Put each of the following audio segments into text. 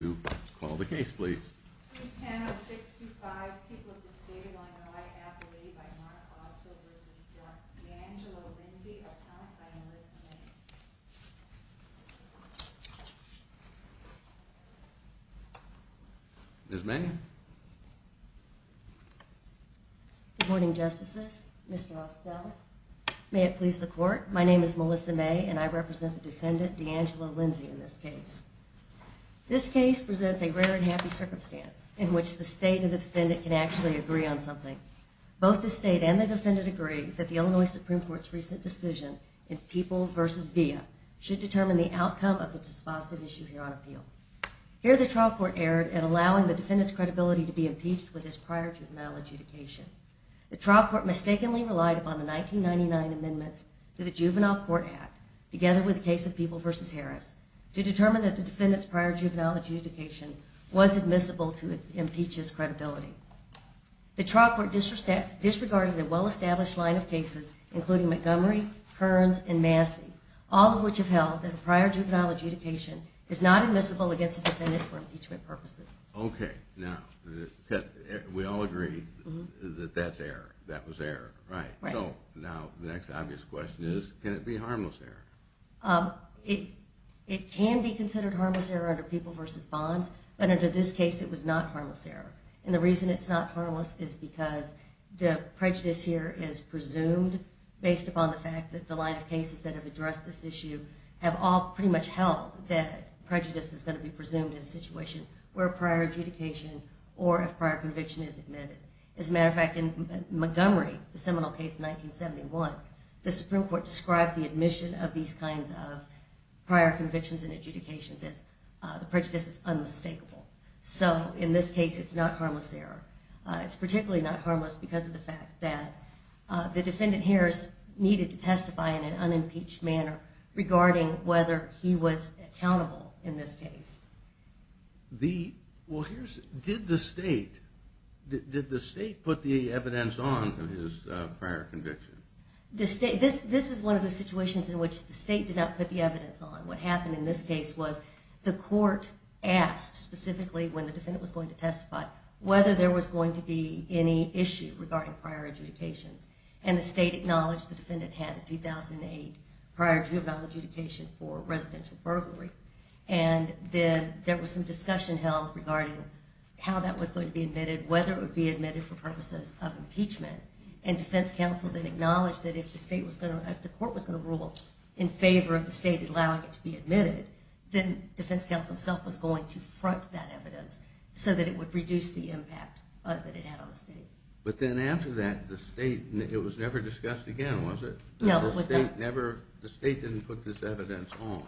to call the case, please. There's many good morning, Justices. Mr. May it please the court. My name is Melissa May, and I represent the defendant, D'Angelo Lindsey. In this case, this case presents a rare and happy circumstance in which the state of the defendant can actually agree on something. Both the state and the defendant agree that the Illinois Supreme Court's recent decision in people versus via should determine the outcome of the dispositive issue here on appeal. Here, the trial court erred and allowing the defendant's credibility to be impeached with his prior juvenile adjudication. The trial court mistakenly relied upon the 1999 amendments to the Juvenile Court Act, together with the case of people versus Harris, to determine that the defendant's prior juvenile adjudication was admissible to impeach his credibility. The trial court disregarded a well established line of cases, including Montgomery, Kearns, and Massey, all of which have held that a prior juvenile adjudication is not admissible against the defendant for impeachment purposes. Okay. Now, we all agree that that's a harmless error, right? Right. So, now the next obvious question is, can it be a harmless error? It can be considered a harmless error under people versus bonds, but under this case it was not a harmless error. And the reason it's not harmless is because the prejudice here is presumed based upon the fact that the line of cases that have addressed this issue have all pretty much held that prejudice is going to be presumed in a situation where prior adjudication or a prior conviction is admitted. As a matter of fact, in the Seminole case in 1971, the Supreme Court described the admission of these kinds of prior convictions and adjudications as the prejudice is unmistakable. So, in this case, it's not harmless error. It's particularly not harmless because of the fact that the defendant, Harris, needed to testify in an unimpeached manner regarding whether he was accountable in this case. Well, here's, did the state, did the state put the evidence on his prior conviction? This is one of the situations in which the state did not put the evidence on. What happened in this case was the court asked, specifically, when the defendant was going to testify, whether there was going to be any issue regarding prior adjudications. And the state acknowledged the defendant had a 2008 prior juvenile adjudication for residential burglary. And then there was some discussion held regarding how that was going to be admitted, whether it would be admitted for purposes of impeachment. And Defense Counsel then acknowledged that if the state was going to, if the court was going to rule in favor of the state allowing it to be admitted, then Defense Counsel himself was going to front that evidence so that it would reduce the impact that it had on the state. But then after that, the state, it was never discussed again, was it? No. The state never, the state didn't put this evidence on.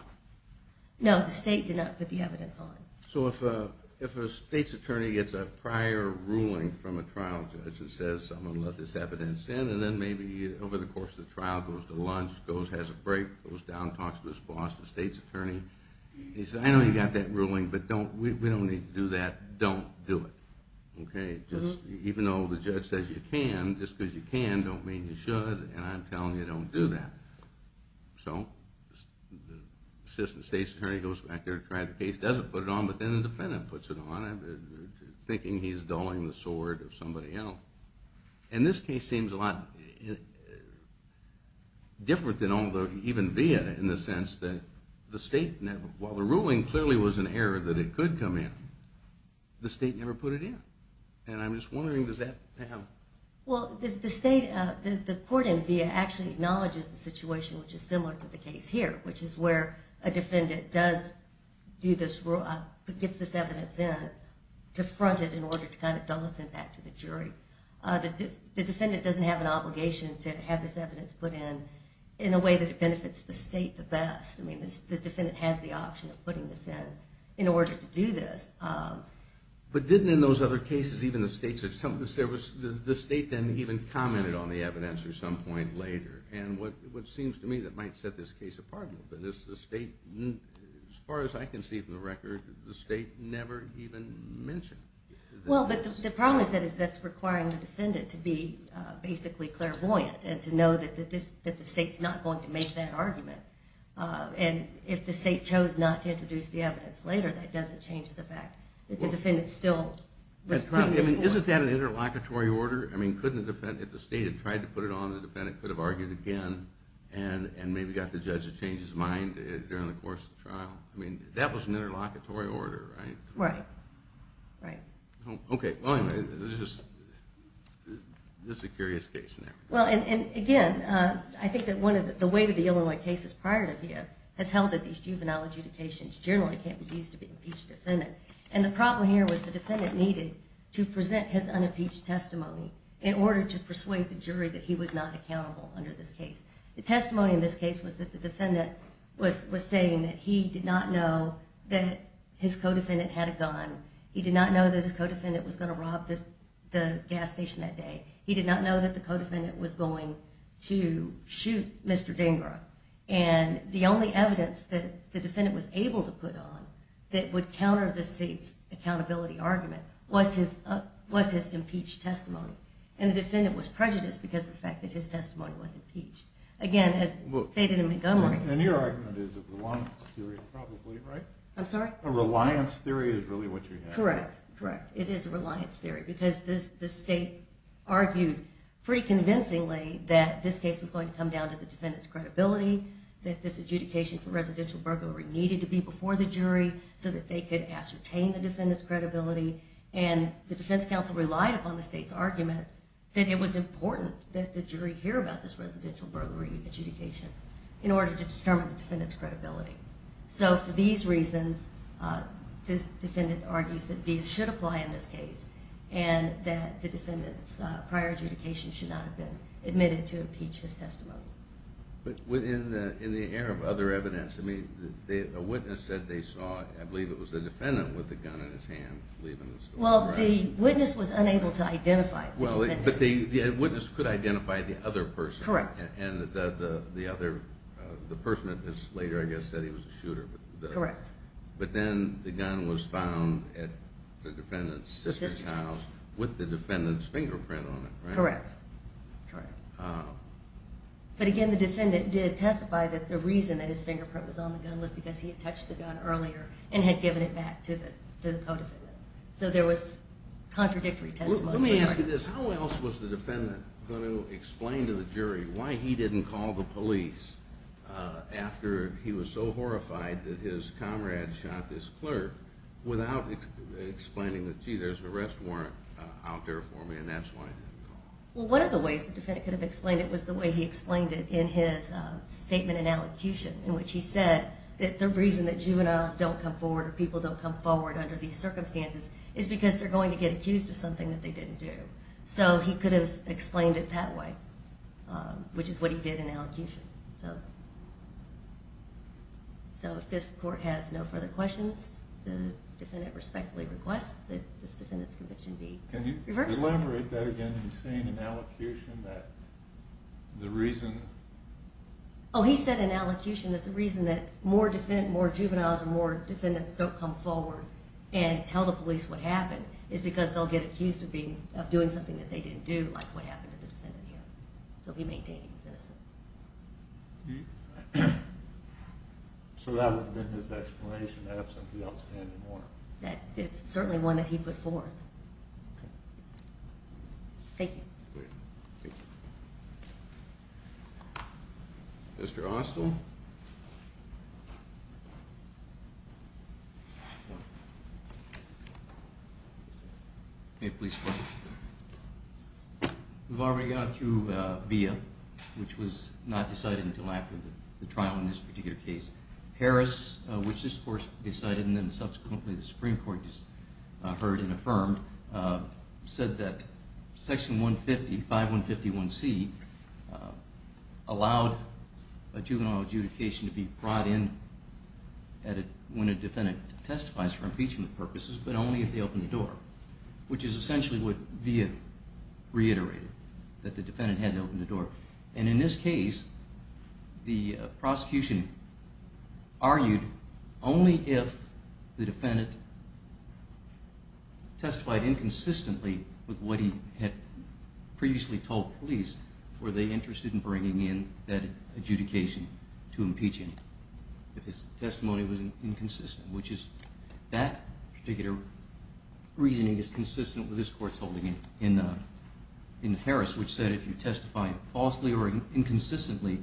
No, the state did not put the evidence on. So if a, if a state's attorney gets a prior ruling from a trial judge that says someone let this evidence in, and then maybe over the course of the trial goes to lunch, goes, has a break, goes down, talks to his boss, the state's attorney. He says, I know you got that ruling, but don't, we don't need to do that. Don't do it. Okay. Just, even though the judge says you can, just because you can don't mean you should, and I'm telling you don't do that. So the assistant state's attorney goes back there to try the case, doesn't put it on, but then the defendant puts it on, thinking he's dulling the sword of somebody else. And this case seems a lot different than all the, even via, in the sense that the state never, while the ruling clearly was an error that it could come in, the state never put it in. And I'm just wondering, does that have? Well, the, the state, the, the court in via actually acknowledges the situation, which is similar to the case here, which is where a defendant does do this, get this evidence in, to front it in order to kind of dull its impact to the jury. The, the defendant doesn't have an obligation to have this evidence put in, in a way that it benefits the state the best. I mean, the defendant has the option of putting this in, in order to do this. But didn't in those other cases, even the states, there was, the, the state then even commented on the evidence at some point later. And what, what seems to me that might set this case apart a little bit is the state, as far as I can see from the record, the state never even mentioned. Well, but the, the problem is that it's, that's requiring the defendant to be basically clairvoyant, and to know that the, that the state's not going to make that argument. And if the state chose not to introduce the evidence later, that doesn't change the fact that the defendant still was putting this in. Isn't that an interlocutory order? I mean, couldn't a defendant, if the state had tried to put it on the defendant, could have argued again, and, and maybe got the judge to change his mind during the course of the trial? I mean, that was an interlocutory order, right? Right. Right. Okay. Well, anyway, this is, this is a curious case. Well, and, and again, I think that one of the, the weight of the Illinois cases prior to here has held that these juvenile adjudications generally can't be used to be impeached defendant. And the problem here was the defendant needed to present his unimpeached testimony in order to persuade the jury that he was not accountable under this case. The testimony in this case was that the defendant was, was saying that he did not know that his co-defendant had a gun. He did not know that his co-defendant was going to rob the, the gas station that day. He did not know that the co-defendant was going to shoot Mr. Dhingra. And the only evidence that the defendant was able to put on that would counter the state's accountability argument was his, was his impeached testimony. And the defendant was prejudiced because of the fact that his testimony was impeached. Again, as stated in Montgomery. And your argument is a reliance theory, probably, right? I'm sorry? A reliance theory is really what you're having. Correct. Correct. It is a reliance theory because this, this state argued pretty convincingly that this case was going to come down to the defendant's credibility, that this case needed to be before the jury so that they could ascertain the defendant's credibility. And the defense counsel relied upon the state's argument that it was important that the jury hear about this residential burglary adjudication in order to determine the defendant's credibility. So for these reasons, this defendant argues that VIA should apply in this case and that the defendant's prior adjudication should not have been admitted to impeach his testimony. But within the, in the air of other evidence, I mean, a witness said they saw, I believe it was the defendant with the gun in his hand leaving the store. Well, the witness was unable to identify the defendant. Well, but the witness could identify the other person. Correct. And the, the, the other, the person that was later, I guess, said he was a shooter. Correct. But then the gun was found at the defendant's sister's house with the defendant's fingerprint on it, right? Correct. Correct. But again, the defendant did testify that the reason that his fingerprint was on the gun was because he had touched the gun earlier and had given it back to the, to the co-defendant. So there was contradictory testimony. Let me ask you this. How else was the defendant going to explain to the jury why he didn't call the police after he was so horrified that his comrade shot this clerk without explaining that, gee, there's an arrest warrant out there for me and that's why he didn't call? Well, one of the ways the defendant could have explained it was the way he did it in his conviction in which he said that the reason that juveniles don't come forward or people don't come forward under these circumstances is because they're going to get accused of something that they didn't do. So he could have explained it that way, which is what he did in allocution. So, so if this court has no further questions, the defendant respectfully requests that this defendant's conviction be reversed. Can you elaborate that again in saying in allocution that the reason? Oh, he said in allocution that the reason that more defendant, more juveniles or more defendants don't come forward and tell the police what happened is because they'll get accused of being, of doing something that they didn't do, like what happened to the defendant here. So he maintained he was innocent. So that would have been his explanation absent the outstanding warrant? That it's certainly one that he put forth. Thank you. Mr. Austell. May the police question? We've already gone through Villa, which was not decided until after the trial in this particular case. Harris, which this court decided and then subsequently the Supreme Court heard and affirmed, said that section 150, 5151C allowed a juvenile adjudication to be brought in when a defendant testifies for impeachment purposes, but only if they open the door, which is essentially what Villa reiterated, that the defendant had to open the door. And in this case, the prosecution argued only if the defendant testified inconsistently with what he had previously told police, were they interested in bringing in that adjudication to impeach him, if his testimony was inconsistent, which is that particular reasoning is consistent with this court's holding in Harris, which said if you testify falsely or inconsistently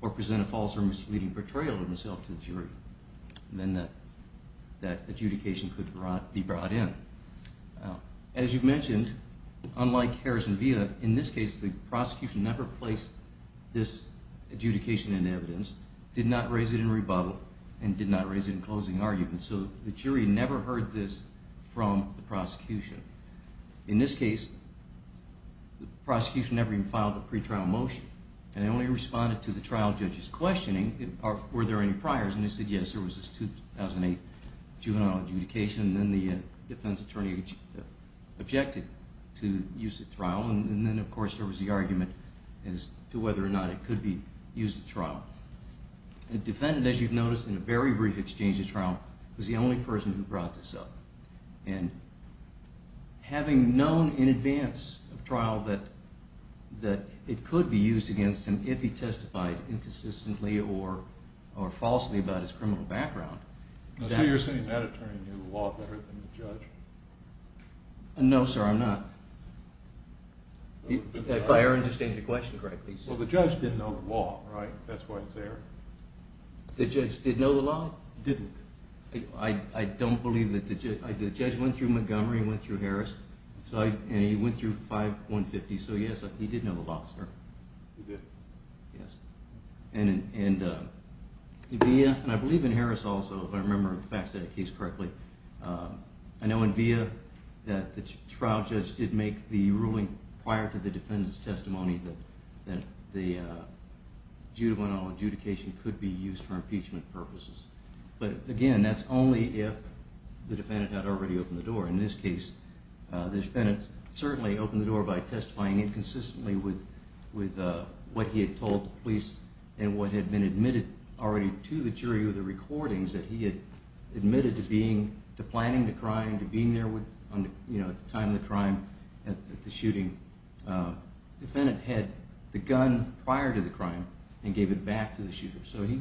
or present a false or misleading portrayal of yourself to the jury, then that adjudication could be brought in. As you mentioned, unlike Harris and Villa, in this case the prosecution never placed this adjudication in evidence, did not raise it in rebuttal, and did not raise it in closing argument. So the jury never heard this from the prosecution. In this case, the prosecution never even filed a pretrial motion, and they only responded to the trial judge's questioning, were there any priors, and they said yes, there was this 2008 juvenile adjudication, and then the defense attorney objected to use the trial, and then of course there was the argument as to whether or not it could be used at trial. The defendant, as you've noticed, in a very brief exchange of trial, was the only person who brought this up, and having known in advance of trial that it could be used against him if he testified inconsistently or falsely about his criminal background. I see you're saying that attorney knew the law better than the judge. No, sir, I'm not. If I understand your question correctly, sir. Well, the judge didn't know the law, right? That's why it's there. The judge went through Montgomery and went through Harris, and he went through 5150, so yes, he did know the law, sir. He did? Yes. And I believe in Harris also, if I remember the facts of the case correctly. I know in VIA that the trial judge did make the ruling prior to the defendant's testimony that the juvenile adjudication could be used for impeachment purposes. But again, that's only if the defendant had already opened the door. In this case, the defendant certainly opened the door by testifying inconsistently with what he had told the police and what had been admitted already to the jury with the recordings that he had admitted to planning the crime, to being there at the time of the crime, at the shooting. The defendant had the gun prior to the crime and gave it back to the shooter. So he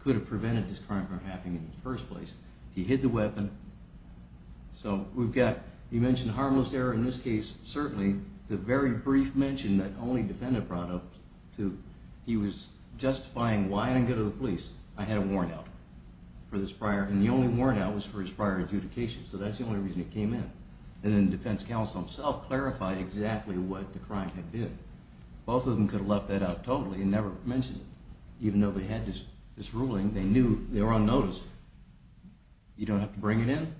could have prevented this crime from happening in the first place. He hid the weapon. So we've got, you mentioned harmless error in this case. Certainly the very brief mention that only defendant brought up to he was justifying why I didn't go to the police. I had a warrant out for this prior, and the only warrant out was for his prior adjudication. So that's the only reason it came in. And then the defense counsel himself clarified exactly what the crime had been. Both of them could have left that out totally and never mentioned it. Even though they had this ruling, they knew they were unnoticed. You don't have to bring it in.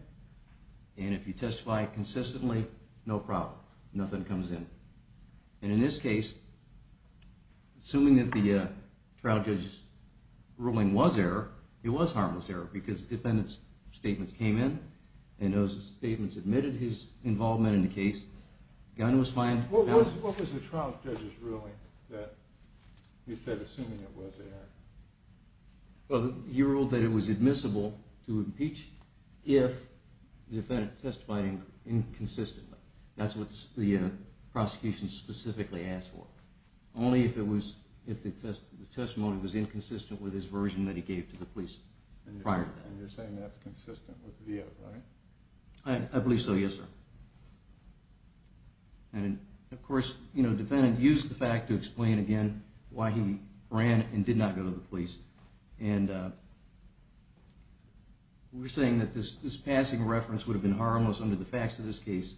And if you testify consistently, no problem. Nothing comes in. And in this case, assuming that the trial judge's ruling was error, it was harmless error because defendants statements came in and those statements admitted his involvement in the case. Gun was fine. What was the trial judge's ruling that you said? Assuming it was there, well, you ruled that it was admissible to impeach if the defendant testifying inconsistently. That's what the prosecution specifically asked for. Only if it was if the testimony was inconsistent with his version that he gave to the police prior. And you're saying that's consistent with via. I believe so. Yes, sir. Yeah. And of course, you know, defendant used the fact to explain again why he ran and did not go to the police. And we're saying that this this passing reference would have been harmless under the facts of this case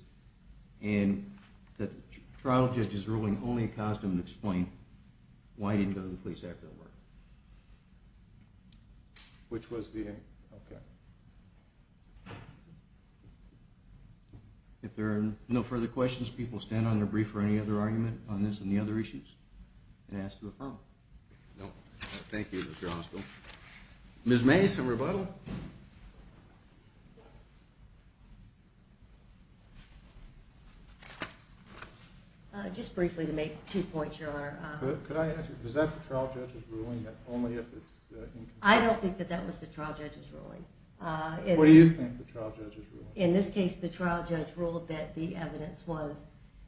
and that the trial judge is ruling only a costume to explain why he didn't go to the police after work. Which was the if there are no further questions, people stand on their brief or any other argument on this and the other issues and ask to affirm. No, thank you, Mr. Hospital. Ms May. Some rebuttal. Just briefly to make two points. You're good. Could I ask you? Is that the trial judge's ruling that only if I don't think that that was the trial judge's ruling? Uh, what do you think the trial judge's ruling? In this case, the trial judge ruled that the evidence was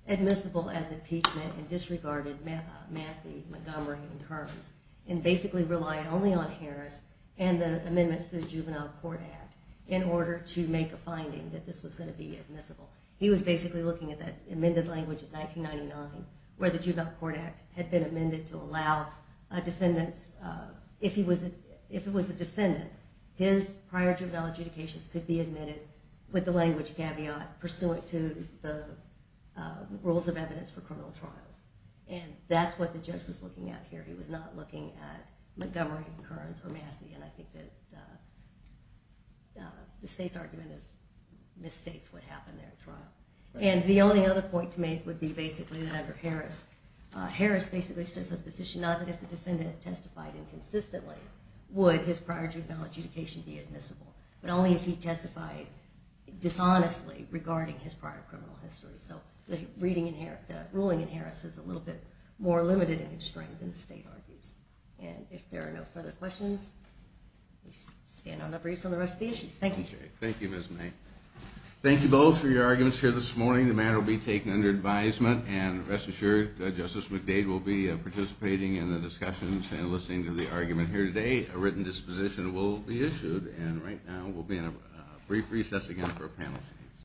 admissible as impeachment and disregarded Massey Montgomery in terms and basically relied only on Harris and the amendments to the Juvenile Court Act in order to make a finding that this was going to be admissible. He was basically looking at that amended language in 1999, where the Juvenile Court Act had been amended to allow defendants. If he was if it was the defendant, his prior juvenile adjudications could be admitted with the language caveat pursuant to the rules of evidence for criminal trials. And that's what the judge was looking at here. He was not looking at Montgomery, Kearns or Massey. And I think that the state's argument is misstates what happened there in trial. And the only other point to make would be basically that under Harris, Harris basically stood for the position, not that if the defendant testified inconsistently, would his prior juvenile adjudication be admissible, but only if he testified dishonestly regarding his prior criminal history. So the ruling in Harris is a little bit more limited in its strength than the state argues. And if there are no further questions, we stand on a breeze on the rest of the issues. Thank you. Thank you, Ms. May. Thank you both for your arguments here this morning. The matter will be taken under advisement and rest assured that Justice McDade will be participating in the discussions and listening to the argument here today. A written disposition will be issued. And right now, we'll be in a brief recess again for a panel.